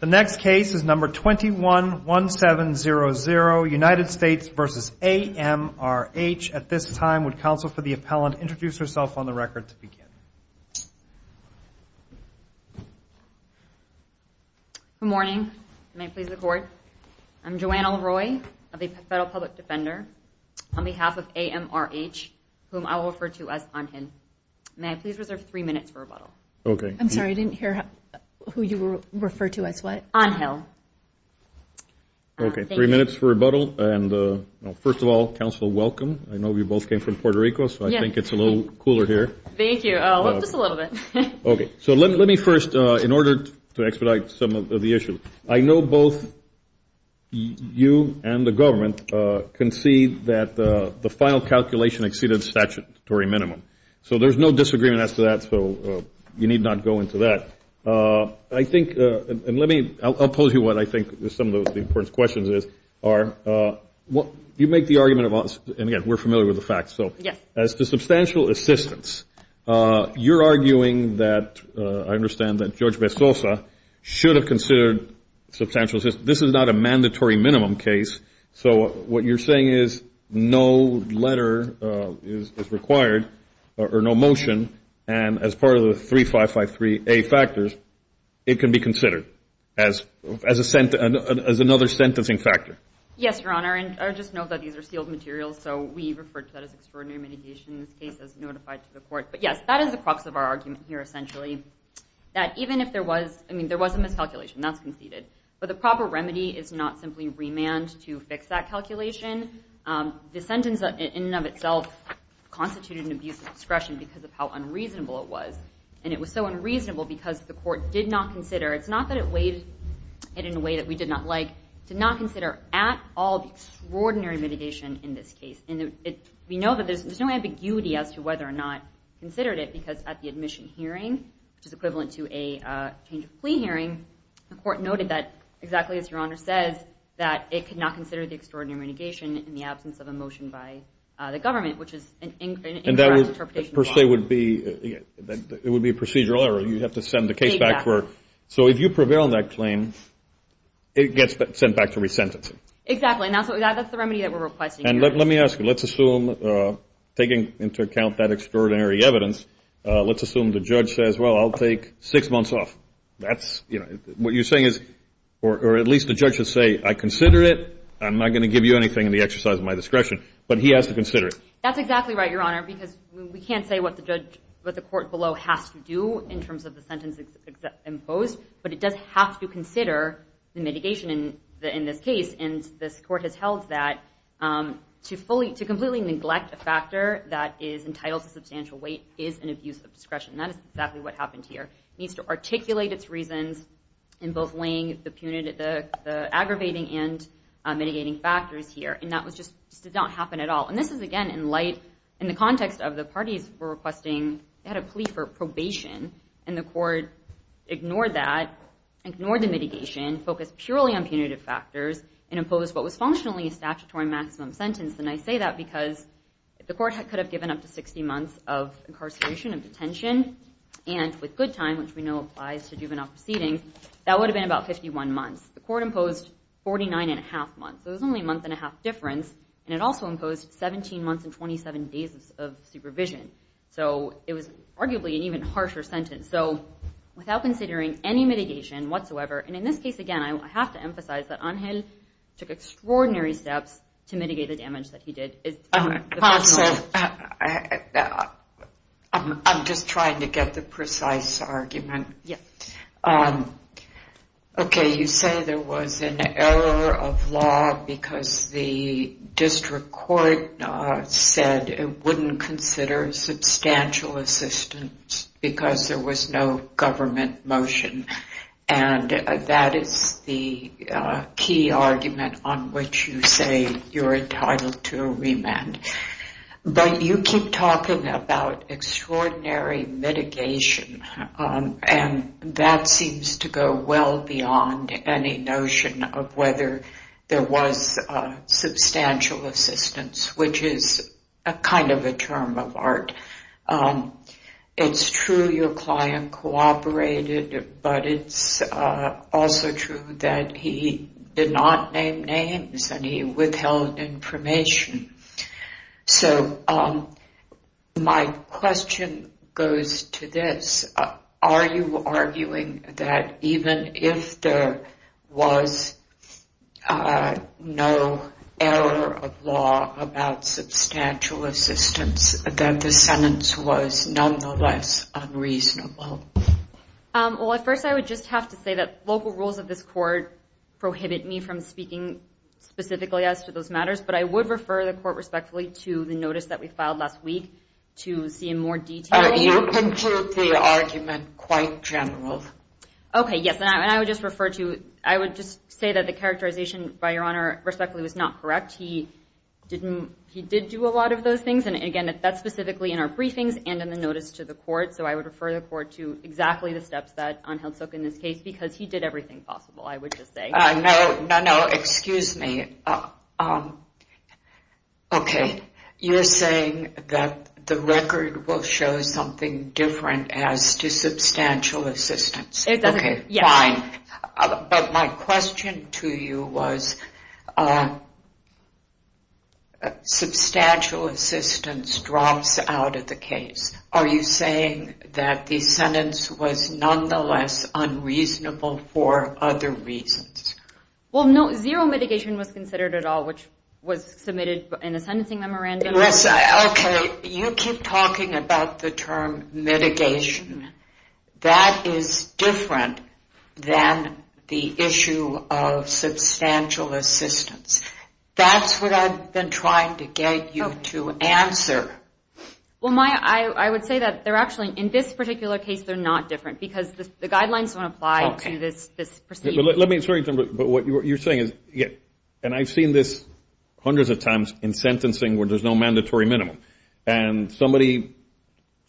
The next case is number 21-1700, United States v. A.M.R.H. At this time, would counsel for the appellant introduce herself on the record to begin? Good morning. May I please record? I'm Joanna Leroy of the Federal Public Defender. On behalf of A.M.R.H., whom I will refer to as I'm him. May I please reserve three minutes for rebuttal? I'm sorry, I didn't hear who you refer to as what? I'm him. Okay, three minutes for rebuttal. First of all, counsel, welcome. I know you both came from Puerto Rico, so I think it's a little cooler here. Thank you, just a little bit. Okay, so let me first, in order to expedite some of the issues, I know both you and the government concede that the final calculation exceeded statutory minimum. So there's no disagreement as to that, so you need not go into that. I think, and let me, I'll pose you what I think some of the important questions are. You make the argument of, and again, we're familiar with the facts. So as to substantial assistance, you're arguing that, I understand, that George Besosa should have considered substantial assistance. This is not a mandatory minimum case. So what you're saying is no letter is required or no motion, and as part of the 3553A factors, it can be considered as another sentencing factor. Yes, Your Honor, and I just note that these are sealed materials, so we refer to that as extraordinary mitigation in this case as notified to the court. But, yes, that is the crux of our argument here, essentially, that even if there was, I mean, there was a miscalculation, that's conceded. But the proper remedy is not simply remand to fix that calculation. The sentence in and of itself constituted an abuse of discretion because of how unreasonable it was. And it was so unreasonable because the court did not consider, it's not that it weighed it in a way that we did not like, did not consider at all the extraordinary mitigation in this case. And we know that there's no ambiguity as to whether or not we considered it because at the admission hearing, which is equivalent to a change of plea hearing, the court noted that, exactly as Your Honor says, that it could not consider the extraordinary mitigation in the absence of a motion by the government, which is an incorrect interpretation of law. And that would, per se, would be a procedural error. You'd have to send the case back for it. Exactly. So if you prevail on that claim, it gets sent back to resentencing. Exactly, and that's the remedy that we're requesting here. And let me ask you, let's assume, taking into account that extraordinary evidence, let's assume the judge says, well, I'll take six months off. What you're saying is, or at least the judge would say, I consider it. I'm not going to give you anything in the exercise of my discretion. But he has to consider it. That's exactly right, Your Honor, because we can't say what the court below has to do in terms of the sentence imposed, but it does have to consider the mitigation in this case. And this court has held that to completely neglect a factor that is entitled to substantial weight is an abuse of discretion. That is exactly what happened here. It needs to articulate its reasons in both weighing the aggravating and mitigating factors here. And that just did not happen at all. And this is, again, in light, in the context of the parties were requesting, they had a plea for probation, and the court ignored that, ignored the mitigation, focused purely on punitive factors, and imposed what was functionally a statutory maximum sentence. And I say that because the court could have given up to 60 months of incarceration and detention, and with good time, which we know applies to juvenile proceedings, that would have been about 51 months. The court imposed 49 and a half months, so it was only a month and a half difference, and it also imposed 17 months and 27 days of supervision. So it was arguably an even harsher sentence. So without considering any mitigation whatsoever, and in this case, again, I have to emphasize that Angel took extraordinary steps to mitigate the damage that he did. I'm just trying to get the precise argument. Okay, you say there was an error of law because the district court said it wouldn't consider substantial assistance because there was no government motion, and that is the key argument on which you say you're entitled to a remand. But you keep talking about extraordinary mitigation, and that seems to go well beyond any notion of whether there was substantial assistance, which is kind of a term of art. It's true your client cooperated, but it's also true that he did not name names, and he withheld information. So my question goes to this. Are you arguing that even if there was no error of law about substantial assistance, that the sentence was nonetheless unreasonable? Well, at first I would just have to say that local rules of this court prohibit me from speaking specifically as to those matters, but I would refer the court respectfully to the notice that we filed last week to see in more detail. You conclude the argument quite general. Okay, yes, and I would just say that the characterization, by Your Honor, respectfully, was not correct. He did do a lot of those things, and, again, that's specifically in our briefings and in the notice to the court, so I would refer the court to exactly the steps that Angel took in this case because he did everything possible, I would just say. No, no, no, excuse me. Okay, you're saying that the record will show something different as to substantial assistance. It doesn't, yes. But my question to you was substantial assistance drops out of the case. Are you saying that the sentence was nonetheless unreasonable for other reasons? Well, no, zero mitigation was considered at all, which was submitted in a sentencing memorandum. Okay, you keep talking about the term mitigation. That is different than the issue of substantial assistance. That's what I've been trying to get you to answer. Well, Maya, I would say that they're actually, in this particular case, they're not different because the guidelines don't apply to this proceeding. Let me, but what you're saying is, and I've seen this hundreds of times in sentencing where there's no mandatory minimum, and somebody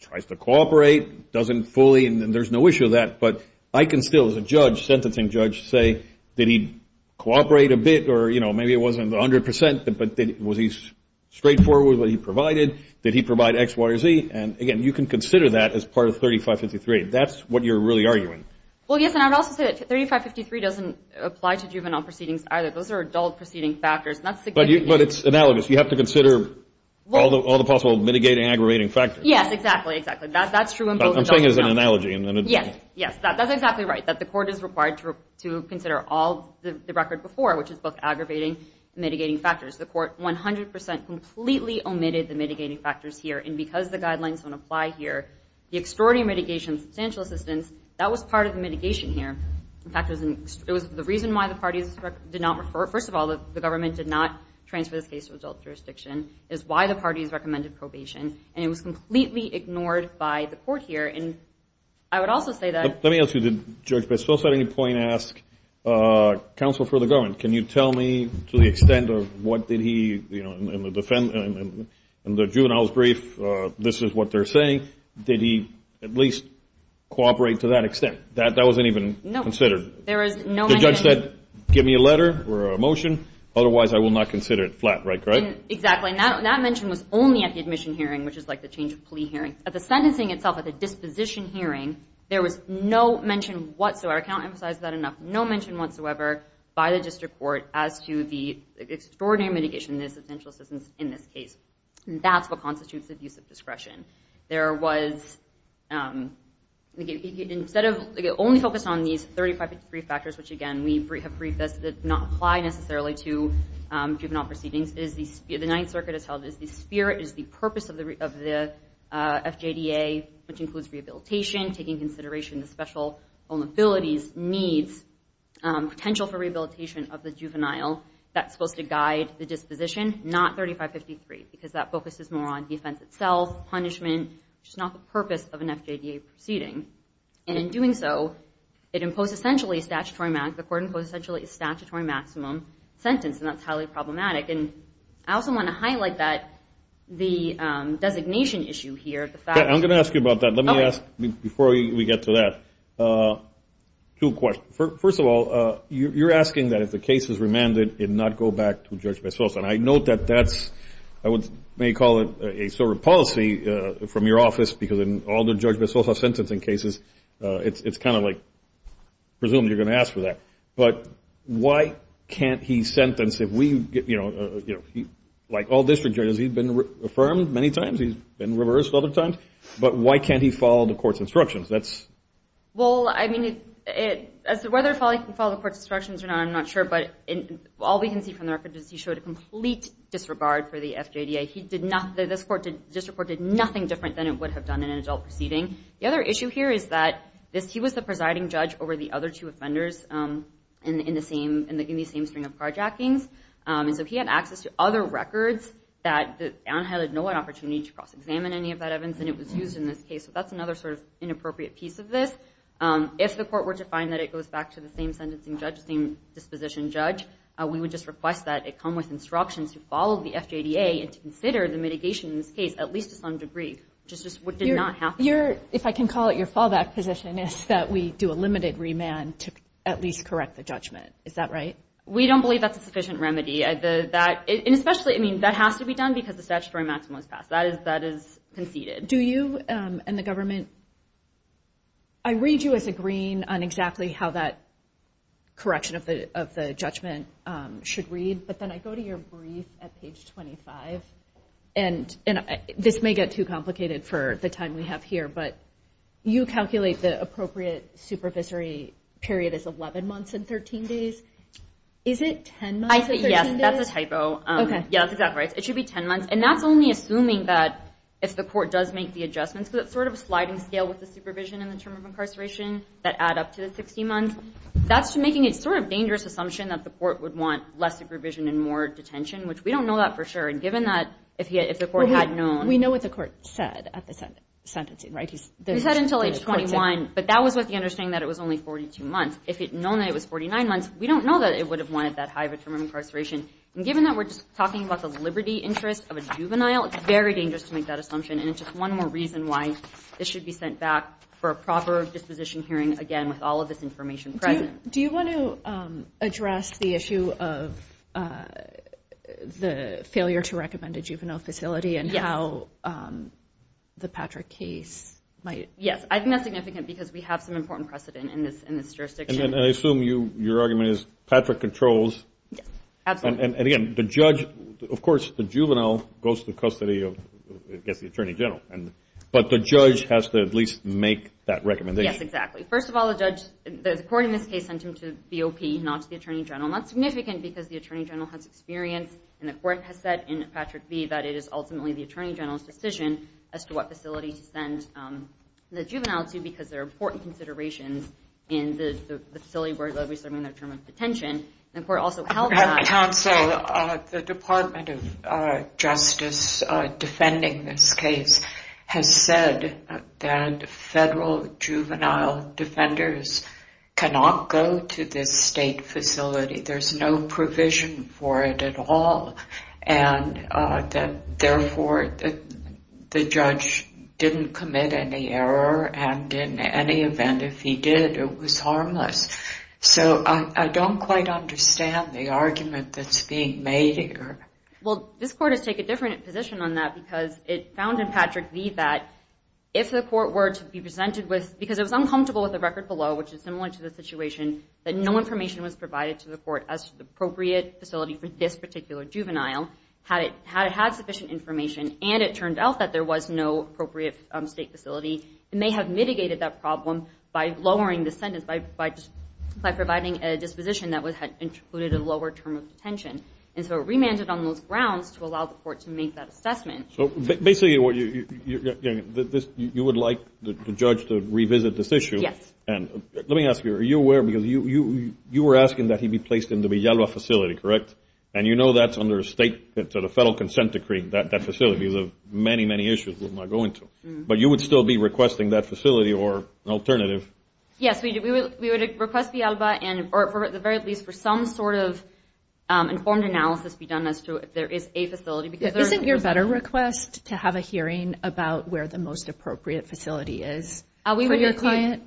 tries to cooperate, doesn't fully, and there's no issue with that, but I can still, as a judge, sentencing judge, say, did he cooperate a bit or, you know, maybe it wasn't 100%, but was he straightforward with what he provided? Did he provide X, Y, or Z? And, again, you can consider that as part of 3553. That's what you're really arguing. Well, yes, and I would also say that 3553 doesn't apply to juvenile proceedings either. Those are adult proceeding factors. But it's analogous. You have to consider all the possible mitigating, aggravating factors. Yes, exactly, exactly. That's true in both adults. I'm saying it as an analogy. Yes, yes, that's exactly right, that the court is required to consider all the record before, which is both aggravating and mitigating factors. The court 100% completely omitted the mitigating factors here, and because the guidelines don't apply here, the extraordinary mitigation of substantial assistance, that was part of the mitigation here. In fact, it was the reason why the parties did not refer. First of all, the government did not transfer this case to adult jurisdiction. It was why the parties recommended probation. And it was completely ignored by the court here. And I would also say that ---- Let me ask you, did Judge Bessels at any point ask counsel for the government, can you tell me to the extent of what did he, you know, in the juvenile's brief, this is what they're saying, did he at least cooperate to that extent? That wasn't even considered. The judge said, give me a letter or a motion, otherwise I will not consider it. Flat right, correct? Exactly, and that mention was only at the admission hearing, which is like the change of plea hearing. At the sentencing itself, at the disposition hearing, there was no mention whatsoever, I can't emphasize that enough, no mention whatsoever by the district court as to the extraordinary mitigation of the substantial assistance in this case. That's what constitutes abusive discretion. There was, instead of, only focused on these 3553 factors, which again we have briefed that does not apply necessarily to juvenile proceedings, the Ninth Circuit has held that the spirit is the purpose of the FJDA, which includes rehabilitation, taking consideration of special vulnerabilities, needs, potential for rehabilitation of the juvenile, that's supposed to guide the disposition, not 3553, because that focuses more on the offense itself, punishment, which is not the purpose of an FJDA proceeding. And in doing so, it imposed essentially a statutory maximum, the court imposed essentially a statutory maximum sentence, and that's highly problematic. And I also want to highlight that the designation issue here, the fact that I'm going to ask you about that. Let me ask, before we get to that, two questions. First of all, you're asking that if the case is remanded, it not go back to Judge Bezos. And I note that that's, I may call it a sort of policy from your office, because in all the Judge Bezos sentencing cases, it's kind of like presumably you're going to ask for that. But why can't he sentence if we, you know, like all district judges, he's been affirmed many times, he's been reversed other times, but why can't he follow the court's instructions? Well, I mean, whether or not he can follow the court's instructions, I'm not sure, but all we can see from the record is he showed a complete disregard for the FJDA. This court did nothing different than it would have done in an adult proceeding. The other issue here is that he was the presiding judge over the other two offenders in the same string of carjackings, and so he had access to other records that Anheil had no opportunity to cross-examine any of that evidence, and it was used in this case. So that's another sort of inappropriate piece of this. If the court were to find that it goes back to the same sentencing judge, the same disposition judge, we would just request that it come with instructions to follow the FJDA and to consider the mitigation in this case at least to some degree, which is just what did not happen. If I can call it your fallback position is that we do a limited remand to at least correct the judgment. Is that right? We don't believe that's a sufficient remedy. And especially, I mean, that has to be done because the statutory maximum is passed. That is conceded. Do you and the government, I read you as agreeing on exactly how that correction of the judgment should read, but then I go to your brief at page 25, and this may get too complicated for the time we have here, but you calculate the appropriate supervisory period as 11 months and 13 days. Is it 10 months and 13 days? Yes, that's a typo. Okay. Yes, exactly. It should be 10 months. And that's only assuming that if the court does make the adjustments, because it's sort of a sliding scale with the supervision and the term of incarceration that add up to the 60 months. That's making a sort of dangerous assumption that the court would want less supervision and more detention, which we don't know that for sure. And given that if the court had known – We know what the court said at the sentencing, right? He said until age 21, but that was with the understanding that it was only 42 months. If it had known that it was 49 months, we don't know that it would have wanted that high of a term of incarceration. And given that we're just talking about the liberty interest of a juvenile, it's very dangerous to make that assumption. And it's just one more reason why this should be sent back for a proper disposition hearing, again, with all of this information present. Do you want to address the issue of the failure to recommend a juvenile facility and how the Patrick case might – Yes, I think that's significant because we have some important precedent in this jurisdiction. And I assume your argument is Patrick controls – Yes, absolutely. And, again, the judge – of course, the juvenile goes to custody of, I guess, the attorney general. But the judge has to at least make that recommendation. Yes, exactly. First of all, the judge – the court in this case sent him to BOP, not to the attorney general. And that's significant because the attorney general has experience, and the court has said in Patrick v. that it is ultimately the attorney general's decision as to what facility to send the juvenile to because there are important considerations in the facility where they'll be serving their term of detention. The court also held that – Counsel, the Department of Justice defending this case has said that federal juvenile defenders cannot go to this state facility. There's no provision for it at all. And, therefore, the judge didn't commit any error. And in any event, if he did, it was harmless. So I don't quite understand the argument that's being made here. Well, this court has taken a different position on that because it found in Patrick v. that if the court were to be presented with – because it was uncomfortable with the record below, which is similar to the situation, that no information was provided to the court as to the appropriate facility for this particular juvenile. Had it had sufficient information, and it turned out that there was no appropriate state facility, it may have mitigated that problem by lowering the sentence, by providing a disposition that included a lower term of detention. And so it remanded on those grounds to allow the court to make that assessment. So basically, you would like the judge to revisit this issue. Yes. Let me ask you, are you aware because you were asking that he be placed in the Villalba facility, correct? And you know that's under a federal consent decree. That facility is of many, many issues we're not going to. But you would still be requesting that facility or an alternative? Yes, we would request Villalba, or at the very least for some sort of informed analysis to be done as to if there is a facility. Isn't your better request to have a hearing about where the most appropriate facility is for your client?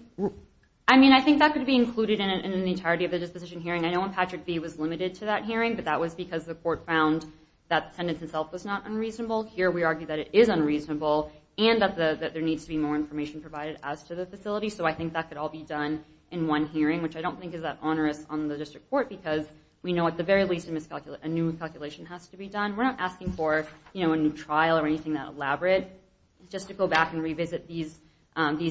I mean, I think that could be included in the entirety of the disposition hearing. I know when Patrick v. was limited to that hearing, but that was because the court found that the sentence itself was not unreasonable. Here we argue that it is unreasonable and that there needs to be more information provided as to the facility. So I think that could all be done in one hearing, which I don't think is that onerous on the district court because we know at the very least a new calculation has to be done. We're not asking for a new trial or anything that elaborate. It's just to go back and revisit these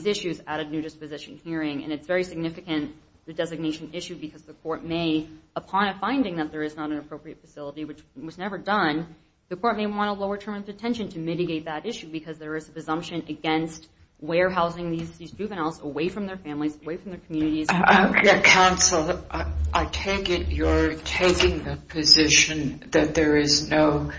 issues at a new disposition hearing. And it's very significant, the designation issue, because the court may, upon a finding that there is not an appropriate facility, which was never done, the court may want to lower terms of detention to mitigate that issue because there is a presumption against warehousing these juveniles away from their families, away from their communities. Counsel, I take it you're taking the position that there is no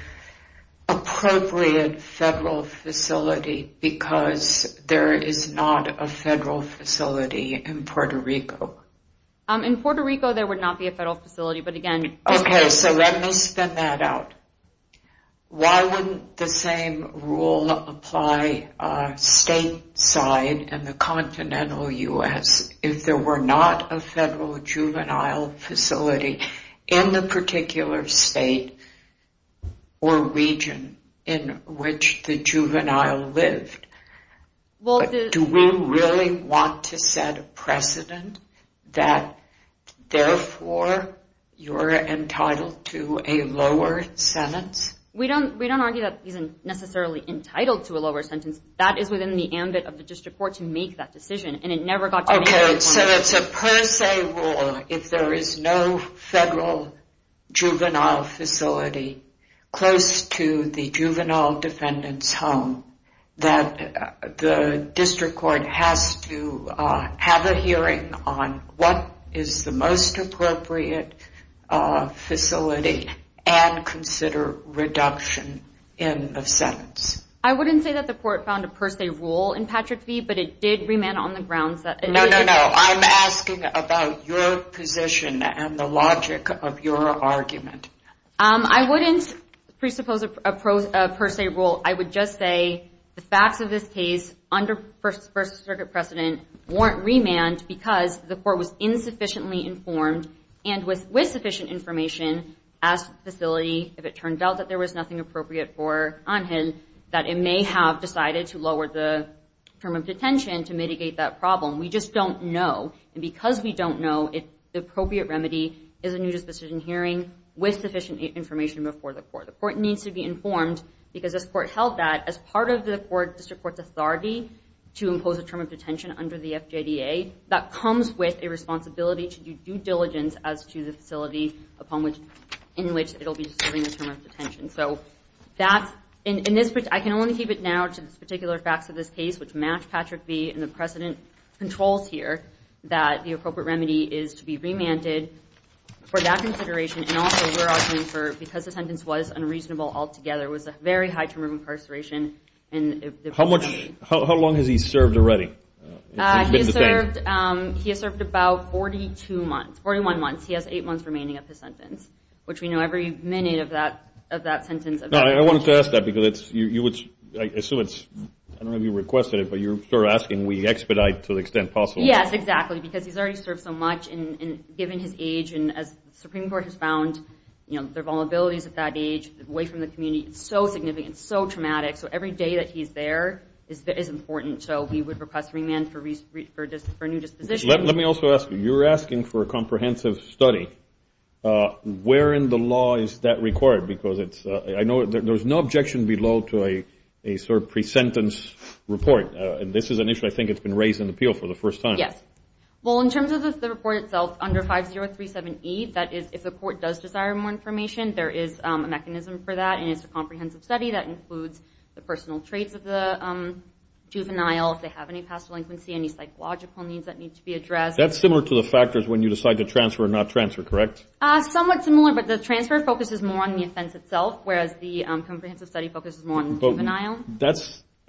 appropriate federal facility because there is not a federal facility in Puerto Rico? In Puerto Rico, there would not be a federal facility, but again... Okay, so let me spin that out. Why wouldn't the same rule apply stateside in the continental U.S. if there were not a federal juvenile facility in the particular state or region in which the juvenile lived? Do we really want to set a precedent that, therefore, you're entitled to a lower sentence? We don't argue that he's necessarily entitled to a lower sentence. That is within the ambit of the district court to make that decision. Okay, so it's a per se rule if there is no federal juvenile facility close to the juvenile defendant's home, that the district court has to have a hearing on what is the most appropriate facility and consider reduction in the sentence. I wouldn't say that the court found a per se rule in Patrick v., but it did remain on the grounds that... No, no, no, I'm asking about your position and the logic of your argument. I wouldn't presuppose a per se rule. I would just say the facts of this case under First Circuit precedent weren't remanded because the court was insufficiently informed and with sufficient information asked the facility, if it turned out that there was nothing appropriate for Angel, that it may have decided to lower the term of detention to mitigate that problem. We just don't know, and because we don't know, if the appropriate remedy is a new disposition hearing with sufficient information before the court. The court needs to be informed because this court held that as part of the district court's authority to impose a term of detention under the FJDA, that comes with a responsibility to do due diligence as to the facility in which it will be serving a term of detention. I can only keep it now to the particular facts of this case, which match Patrick v. and the precedent controls here, that the appropriate remedy is to be remanded for that consideration, and also we're arguing for, because the sentence was unreasonable altogether, it was a very high term of incarceration. How long has he served already? He has served about 41 months. He has eight months remaining of his sentence, which we know every minute of that sentence of detention. I wanted to ask that because I assume it's, I don't know if you requested it, but you're asking we expedite to the extent possible. Yes, exactly, because he's already served so much, and given his age, and as the Supreme Court has found their vulnerabilities at that age, away from the community, it's so significant, so traumatic, so every day that he's there is important, so we would request remand for a new disposition. Let me also ask you, you're asking for a comprehensive study. Where in the law is that required? Because I know there's no objection below to a sort of pre-sentence report, and this is an issue I think that's been raised in the appeal for the first time. Yes. Well, in terms of the report itself, under 5037E, that is if the court does desire more information, there is a mechanism for that, and it's a comprehensive study that includes the personal traits of the juvenile, if they have any past delinquency, any psychological needs that need to be addressed. That's similar to the factors when you decide to transfer or not transfer, correct? Somewhat similar, but the transfer focuses more on the offense itself, whereas the comprehensive study focuses more on the juvenile.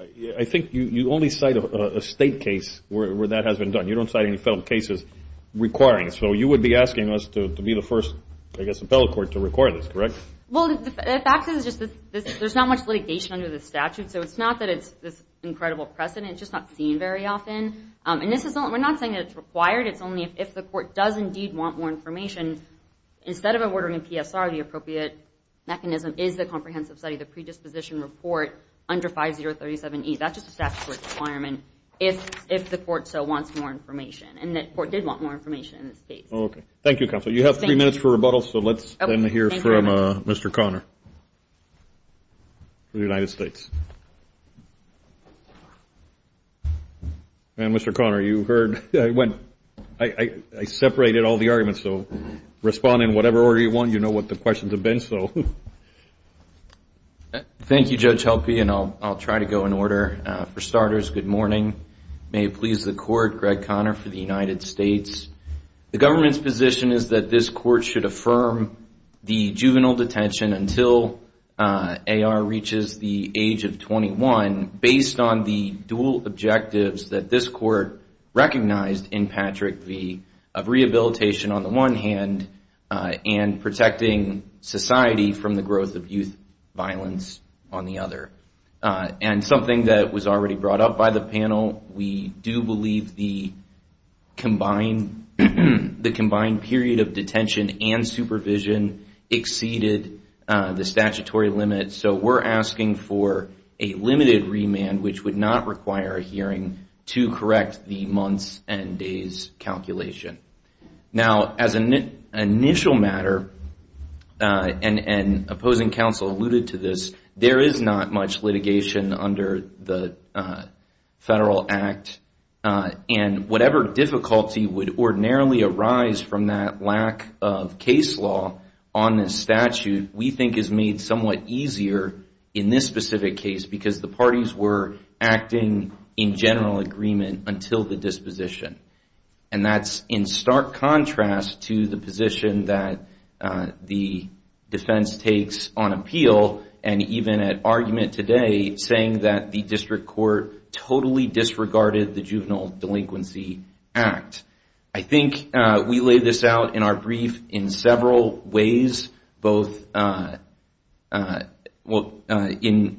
I think you only cite a state case where that has been done. You don't cite any federal cases requiring it. So you would be asking us to be the first, I guess, appellate court to require this, correct? Well, the fact is there's not much litigation under the statute, so it's not that it's this incredible precedent. It's just not seen very often. And we're not saying that it's required. It's only if the court does indeed want more information. Instead of ordering a PSR, the appropriate mechanism is the comprehensive study, the predisposition report under 5037E. That's just a statute requirement if the court so wants more information, and the court did want more information in this case. Okay. Thank you, Counsel. You have three minutes for rebuttal, so let's then hear from Mr. Conner from the United States. And, Mr. Conner, you heard when I separated all the arguments, so respond in whatever order you want. You know what the questions have been, so. Thank you, Judge Helpe, and I'll try to go in order. For starters, good morning. May it please the Court, Greg Conner for the United States. The government's position is that this court should affirm the juvenile detention until AR reaches the age of 21 based on the dual objectives that this court recognized in Patrick v. of rehabilitation on the one hand and protecting society from the growth of youth violence on the other. And something that was already brought up by the panel, we do believe the combined period of detention and supervision exceeded the statutory limit, so we're asking for a limited remand, which would not require a hearing, to correct the months and days calculation. Now, as an initial matter, and opposing counsel alluded to this, there is not much litigation under the federal act, and whatever difficulty would ordinarily arise from that lack of case law on this statute, we think is made somewhat easier in this specific case, because the parties were acting in general agreement until the disposition. And that's in stark contrast to the position that the defense takes on appeal, and even at argument today, saying that the district court totally disregarded the juvenile delinquency act. I think we laid this out in our brief in several ways, both in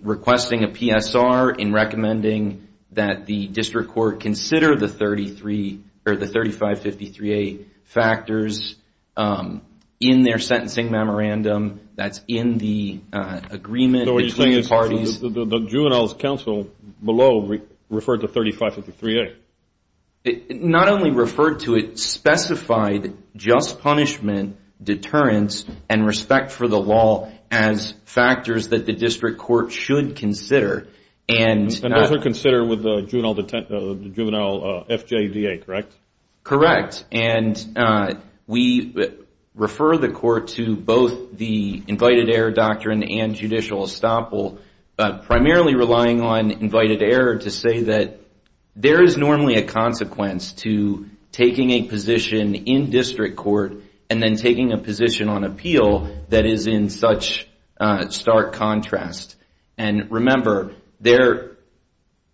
requesting a PSR, in recommending that the district court consider the 3553A factors in their sentencing memorandum, that's in the agreement between the parties. So what you're saying is the juvenile's counsel below referred to 3553A? Not only referred to it, specified just punishment, deterrence, and respect for the law as factors that the district court should consider. And those are considered with the juvenile FJDA, correct? Correct. And we refer the court to both the invited error doctrine and judicial estoppel, but primarily relying on invited error to say that there is normally a consequence to taking a position in district court, and then taking a position on appeal that is in such stark contrast. And remember, they're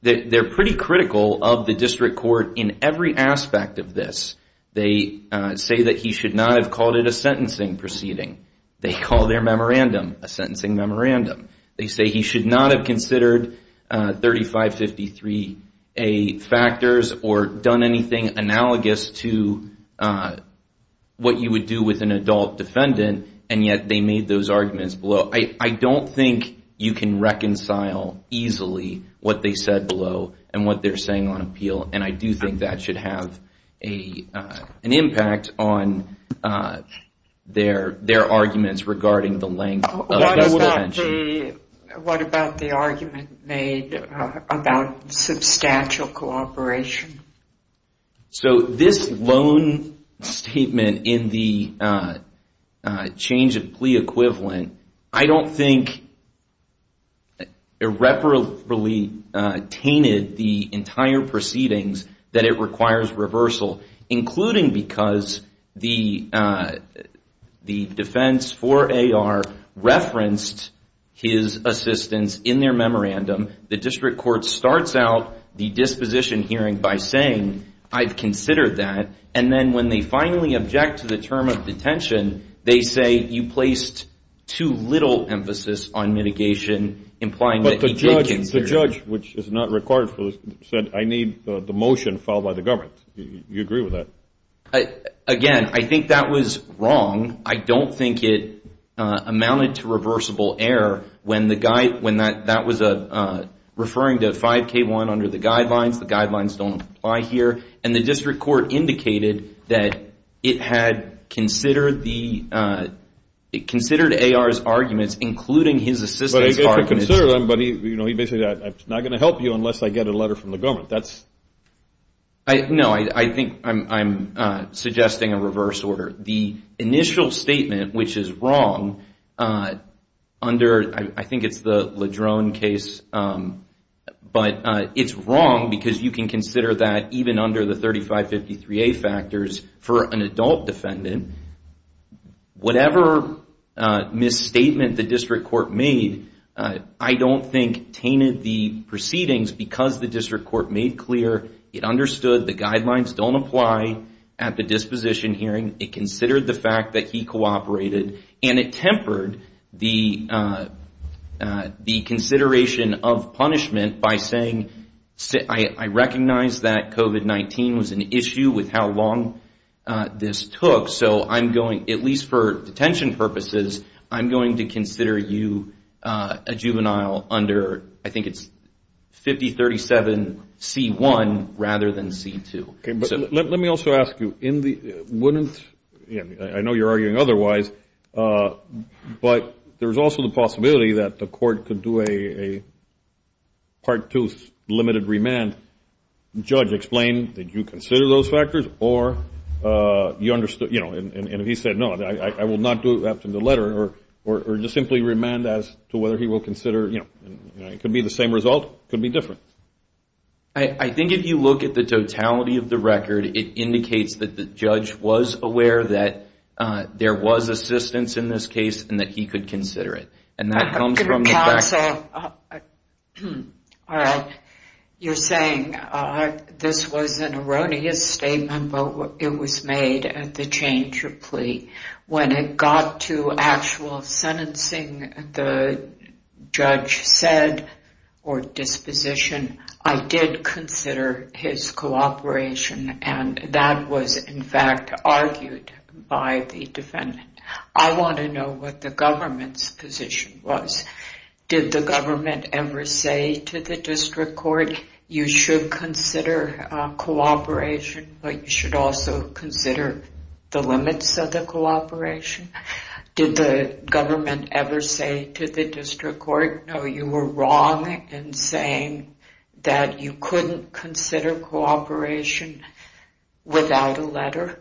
pretty critical of the district court in every aspect of this. They say that he should not have called it a sentencing proceeding. They call their memorandum a sentencing memorandum. They say he should not have considered 3553A factors or done anything analogous to what you would do with an adult defendant, and yet they made those arguments below. I don't think you can reconcile easily what they said below and what they're saying on appeal, and I do think that should have an impact on their arguments regarding the length of the detention. What about the argument made about substantial cooperation? So this loan statement in the change of plea equivalent, I don't think irreparably tainted the entire proceedings that it requires reversal, including because the defense for AR referenced his assistance in their memorandum. The district court starts out the disposition hearing by saying, I've considered that, and then when they finally object to the term of detention, they say you placed too little emphasis on mitigation, implying that he did consider it. But the judge, which is not required, said, I need the motion filed by the government. Do you agree with that? Again, I think that was wrong. I don't think it amounted to reversible error when that was referring to 5K1 under the guidelines. The guidelines don't apply here. And the district court indicated that it had considered AR's arguments, including his assistance argument. But he basically said, I'm not going to help you unless I get a letter from the government. No, I think I'm suggesting a reverse order. The initial statement, which is wrong under, I think it's the LeDrone case, but it's wrong because you can consider that even under the 3553A factors for an adult defendant. Whatever misstatement the district court made, I don't think tainted the proceedings because the district court made clear it understood the guidelines don't apply at the disposition hearing. It considered the fact that he cooperated and it tempered the consideration of punishment by saying, I recognize that COVID-19 was an issue with how long this took, so I'm going, at least for detention purposes, I'm going to consider you a juvenile under, I think it's 5037C1 rather than C2. Let me also ask you, wouldn't, I know you're arguing otherwise, but there's also the possibility that the court could do a part two limited remand. Judge, explain, did you consider those factors or you understood, you know, and he said no, I will not do it after the letter or just simply remand as to whether he will consider, you know, it could be the same result, it could be different. I think if you look at the totality of the record, it indicates that the judge was aware that there was assistance in this case and that he could consider it. And that comes from the facts. Counsel, you're saying this was an erroneous statement, but it was made at the change of plea. When it got to actual sentencing, the judge said or disposition, I did consider his cooperation and that was in fact argued by the defendant. I want to know what the government's position was. Did the government ever say to the district court, you should consider cooperation, but you should also consider the limits of the cooperation? Did the government ever say to the district court, no, you were wrong in saying that you couldn't consider cooperation without a letter?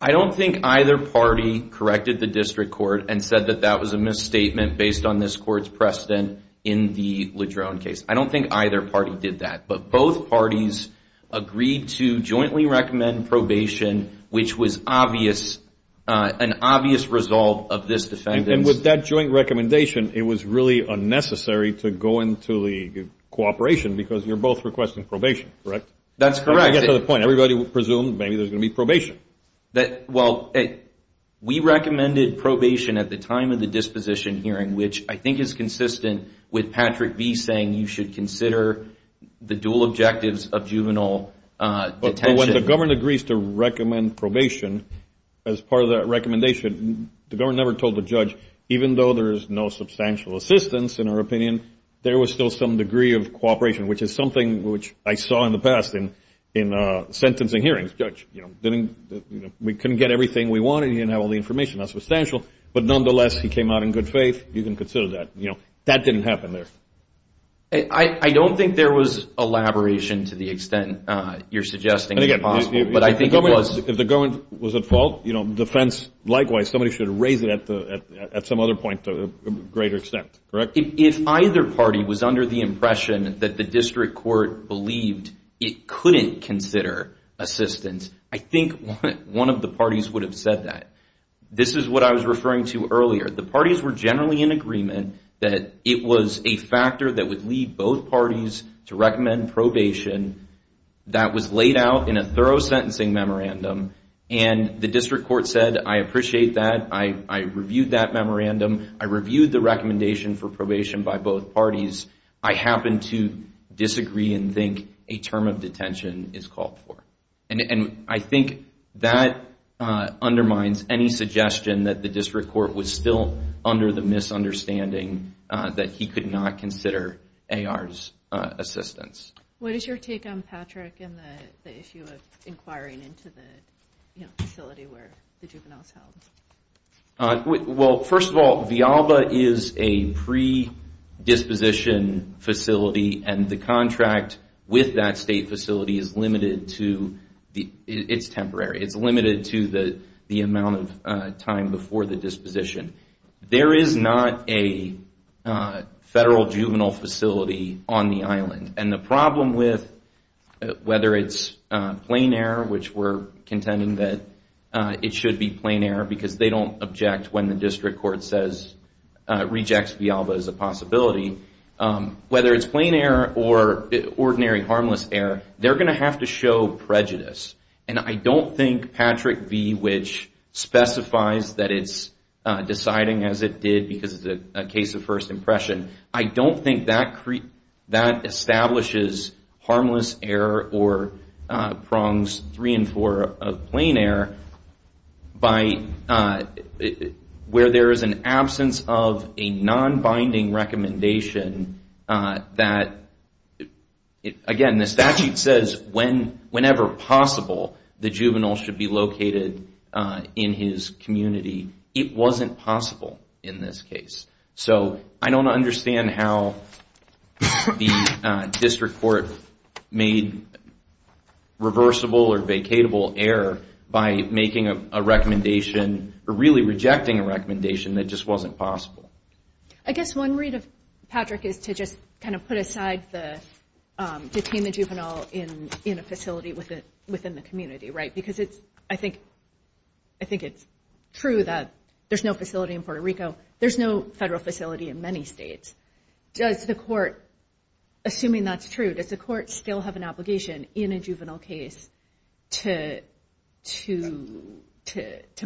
I don't think either party corrected the district court and said that that was a misstatement based on this court's precedent in the LeDrone case. I don't think either party did that, but both parties agreed to jointly recommend probation, which was an obvious resolve of this defendant. And with that joint recommendation, it was really unnecessary to go into the cooperation because you're both requesting probation, correct? That's correct. I get to the point. Everybody would presume maybe there's going to be probation. Well, we recommended probation at the time of the disposition hearing, which I think is consistent with Patrick B. saying you should consider the dual objectives of juvenile detention. But when the government agrees to recommend probation as part of that recommendation, the government never told the judge, even though there is no substantial assistance in our opinion, there was still some degree of cooperation, which is something which I saw in the past in sentencing hearings. Judge, we couldn't get everything we wanted. You didn't have all the information. But nonetheless, he came out in good faith. You can consider that. That didn't happen there. I don't think there was elaboration to the extent you're suggesting is possible. But I think it was. If the government was at fault, the defense, likewise, somebody should raise it at some other point to a greater extent, correct? If either party was under the impression that the district court believed it couldn't consider assistance, I think one of the parties would have said that. This is what I was referring to earlier. The parties were generally in agreement that it was a factor that would lead both parties to recommend probation that was laid out in a thorough sentencing memorandum. And the district court said, I appreciate that. I reviewed that memorandum. I reviewed the recommendation for probation by both parties. I happen to disagree and think a term of detention is called for. And I think that undermines any suggestion that the district court was still under the misunderstanding that he could not consider AR's assistance. What is your take on Patrick and the issue of inquiring into the facility where the juvenile is held? Well, first of all, Vialba is a predisposition facility. And the contract with that state facility is limited to the amount of time before the disposition. There is not a federal juvenile facility on the island. And the problem with whether it's plain error, which we're contending that it should be plain error because they don't object when the district court rejects Vialba as a possibility. Whether it's plain error or ordinary harmless error, they're going to have to show prejudice. And I don't think Patrick V., which specifies that it's deciding as it did because it's a case of first impression, I don't think that establishes harmless error or prongs three and four of plain error where there is an absence of a non-binding recommendation that, again, the statute says whenever possible, the juvenile should be located in his community. It wasn't possible in this case. So I don't understand how the district court made reversible or vacatable error by making a recommendation or really rejecting a recommendation that just wasn't possible. I guess one read of Patrick is to just kind of put aside the detainment juvenile in a facility within the community, right? Because I think it's true that there's no facility in Puerto Rico. There's no federal facility in many states. Does the court, assuming that's true, does the court still have an obligation in a juvenile case to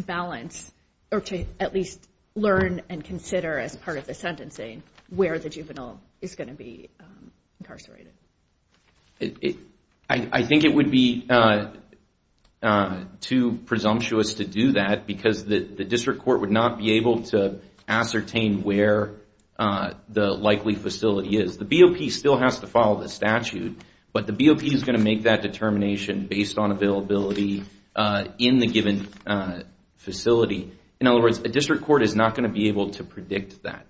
balance or to at least learn and consider as part of the sentencing where the juvenile is going to be incarcerated? I think it would be too presumptuous to do that because the district court would not be able to ascertain where the likely facility is. The BOP still has to follow the statute, but the BOP is going to make that determination based on availability in the given facility. In other words, a district court is not going to be able to predict that.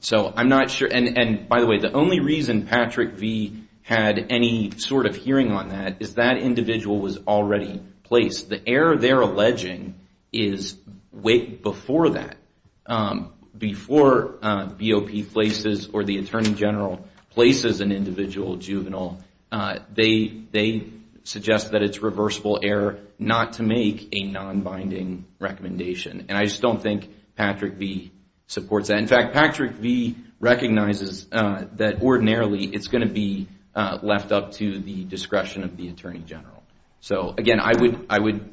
So I'm not sure. And by the way, the only reason Patrick V. had any sort of hearing on that is that individual was already placed. The error they're alleging is way before that. Before BOP places or the attorney general places an individual juvenile, they suggest that it's reversible error not to make a non-binding recommendation. And I just don't think Patrick V. supports that. In fact, Patrick V. recognizes that ordinarily it's going to be left up to the discretion of the attorney general. So again, I would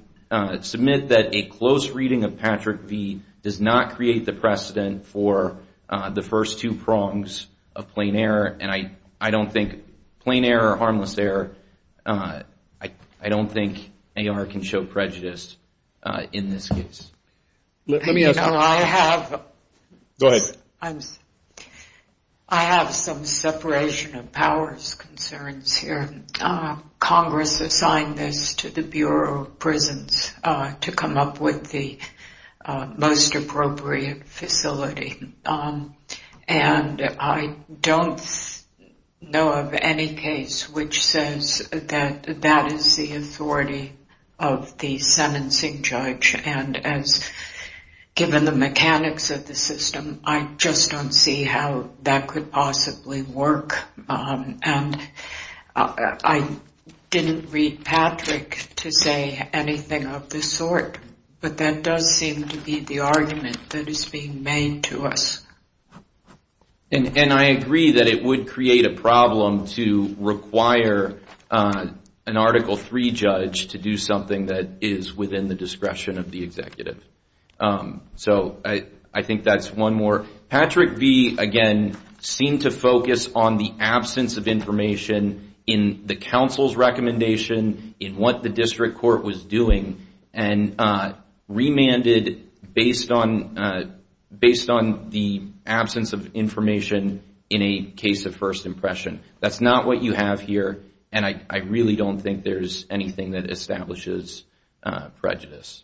submit that a close reading of Patrick V. does not create the precedent for the first two prongs of plain error. And I don't think plain error or harmless error, I don't think AR can show prejudice in this case. Let me ask you. Go ahead. I have some separation of powers concerns here. Congress assigned this to the Bureau of Prisons to come up with the most appropriate facility. And I don't know of any case which says that that is the authority of the sentencing judge. And as given the mechanics of the system, I just don't see how that could possibly work. And I didn't read Patrick to say anything of this sort. But that does seem to be the argument that is being made to us. And I agree that it would create a problem to require an Article III judge to do something that is within the discretion of the executive. So I think that's one more. Patrick V., again, seemed to focus on the absence of information in the council's recommendation, in what the district court was doing, and remanded based on the absence of information in a case of first impression. That's not what you have here, and I really don't think there's anything that establishes prejudice.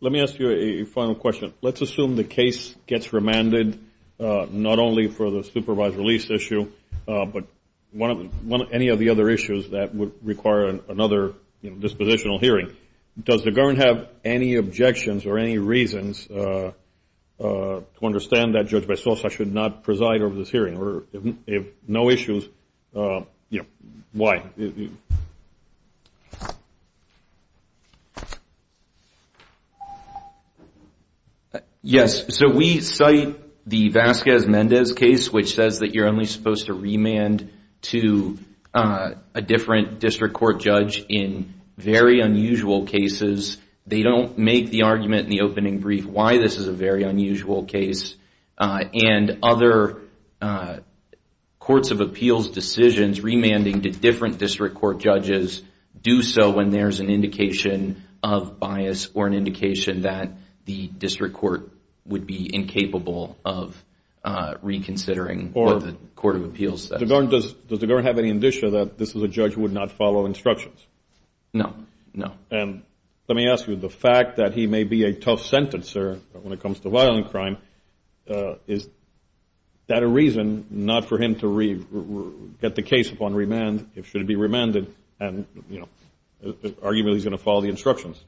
Let me ask you a final question. Let's assume the case gets remanded, not only for the supervised release issue, but any of the other issues that would require another dispositional hearing. Does the government have any objections or any reasons to understand that Judge Bessosa should not preside over this hearing? If no issues, why? Yes. So we cite the Vasquez-Mendez case, which says that you're only supposed to remand to a different district court judge in very unusual cases. They don't make the argument in the opening brief why this is a very unusual case. And other courts of appeals decisions, remanding to different district court judges, do so when there's an indication of bias or an indication that the district court would be incapable of reconsidering what the court of appeals says. Does the government have any indicia that this is a judge who would not follow instructions? No, no. And let me ask you, the fact that he may be a tough sentencer when it comes to violent crime, is that a reason not for him to get the case upon remand? Should it be remanded? Arguably, he's going to follow the instructions.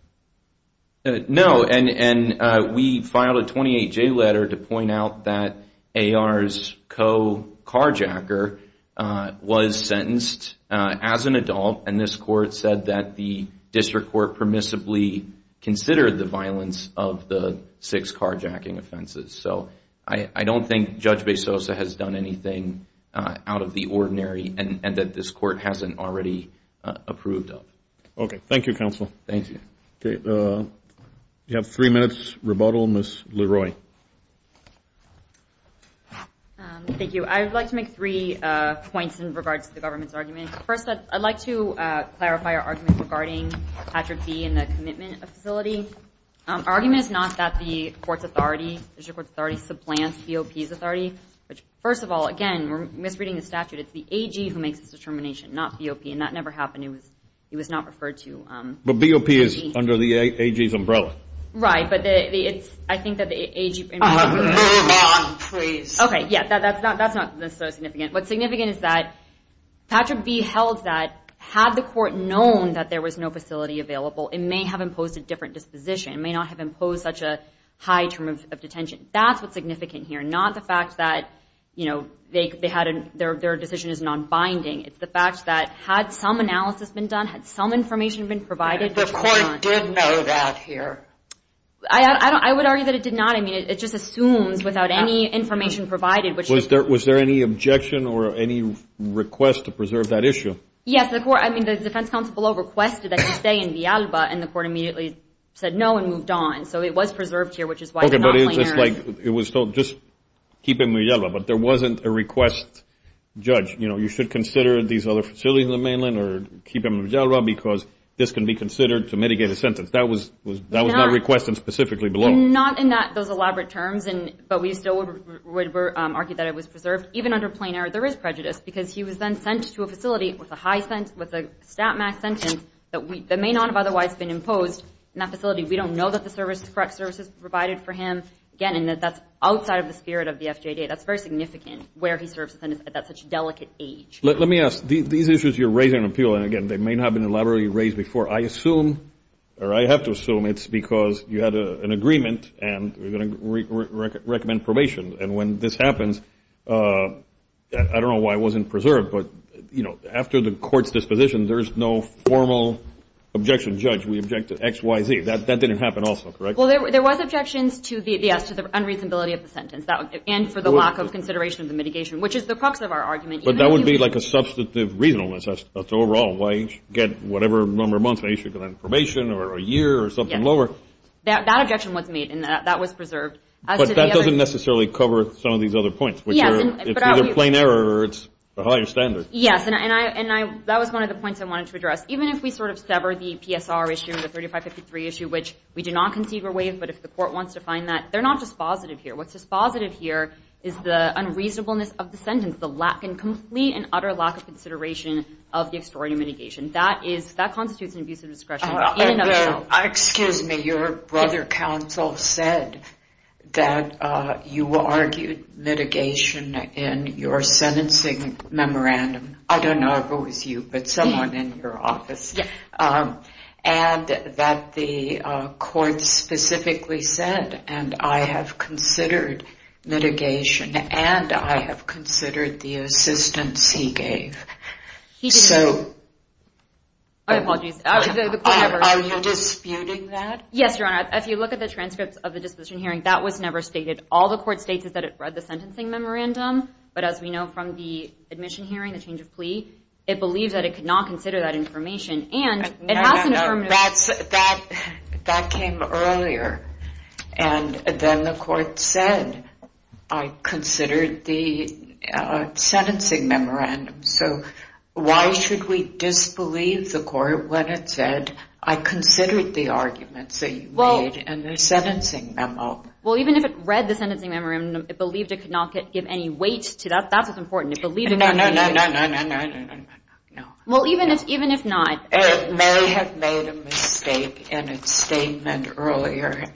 No, and we filed a 28-J letter to point out that A.R.'s co-carjacker was sentenced as an adult, and this court said that the district court permissibly considered the violence of the six carjacking offenses. So I don't think Judge Bezosa has done anything out of the ordinary and that this court hasn't already approved of. Okay, thank you, counsel. Thank you. Okay, we have three minutes rebuttal. Ms. Leroy. Thank you. I'd like to make three points in regards to the government's argument. First, I'd like to clarify our argument regarding Patrick B. and the commitment facility. Our argument is not that the court's authority, district court's authority, supplants B.O.P.'s authority. First of all, again, we're misreading the statute. It's the A.G. who makes the determination, not B.O.P., and that never happened. He was not referred to. But B.O.P. is under the A.G.'s umbrella. Right, but I think that the A.G. Move on, please. Okay, yeah, that's not necessarily significant. What's significant is that Patrick B. held that had the court known that there was no facility available, it may have imposed a different disposition. It may not have imposed such a high term of detention. That's what's significant here, not the fact that, you know, their decision is nonbinding. It's the fact that had some analysis been done, had some information been provided. The court did know that here. I would argue that it did not. I mean, it just assumes without any information provided. Was there any objection or any request to preserve that issue? Yes. I mean, the defense counsel below requested that he stay in Villalba, and the court immediately said no and moved on. So it was preserved here, which is why they're not playing there. Okay, but it's just like it was told, just keep him in Villalba. But there wasn't a request, judge, you know, you should consider these other facilities in the mainland or keep him in Villalba because this can be considered to mitigate a sentence. That was not requested specifically below. Not in those elaborate terms, but we still would argue that it was preserved. Even under plain error, there is prejudice because he was then sent to a facility with a stat max sentence that may not have otherwise been imposed in that facility. We don't know that the correct services were provided for him. Again, that's outside of the spirit of the FJD. That's very significant where he serves at such a delicate age. Let me ask. These issues you're raising appeal, and, again, they may not have been elaborately raised before. I assume, or I have to assume it's because you had an agreement and we're going to recommend probation. And when this happens, I don't know why it wasn't preserved, but, you know, after the court's disposition, there's no formal objection. Judge, we object to X, Y, Z. That didn't happen also, correct? Well, there was objections to the unreasonability of the sentence and for the lack of consideration of the mitigation, which is the crux of our argument. But that would be like a substantive reasonableness. That's overall. Why get whatever number of months they should get on probation or a year or something lower. That objection was made, and that was preserved. But that doesn't necessarily cover some of these other points. It's either plain error or it's a higher standard. Yes, and that was one of the points I wanted to address. Even if we sort of sever the PSR issue, the 3553 issue, which we do not concede were waived, but if the court wants to find that, they're not dispositive here. What's dispositive here is the unreasonableness of the sentence, and complete and utter lack of consideration of the extraordinary mitigation. That constitutes an abuse of discretion in and of itself. Excuse me. Your brother counsel said that you argued mitigation in your sentencing memorandum. I don't know if it was you, but someone in your office. Yes. And that the court specifically said, and I have considered mitigation, and I have considered the assistance he gave. I apologize. Are you disputing that? Yes, Your Honor. If you look at the transcripts of the disputation hearing, that was never stated. All the court states is that it read the sentencing memorandum, but as we know from the admission hearing, the change of plea, it believes that it could not consider that information. No, that came earlier, and then the court said, I considered the sentencing memorandum. So why should we disbelieve the court when it said, I considered the arguments that you made in the sentencing memo? Well, even if it read the sentencing memorandum, it believed it could not give any weight to that. That's what's important. No, no, no, no, no. Well, even if not. It may have made a mistake in its statement earlier,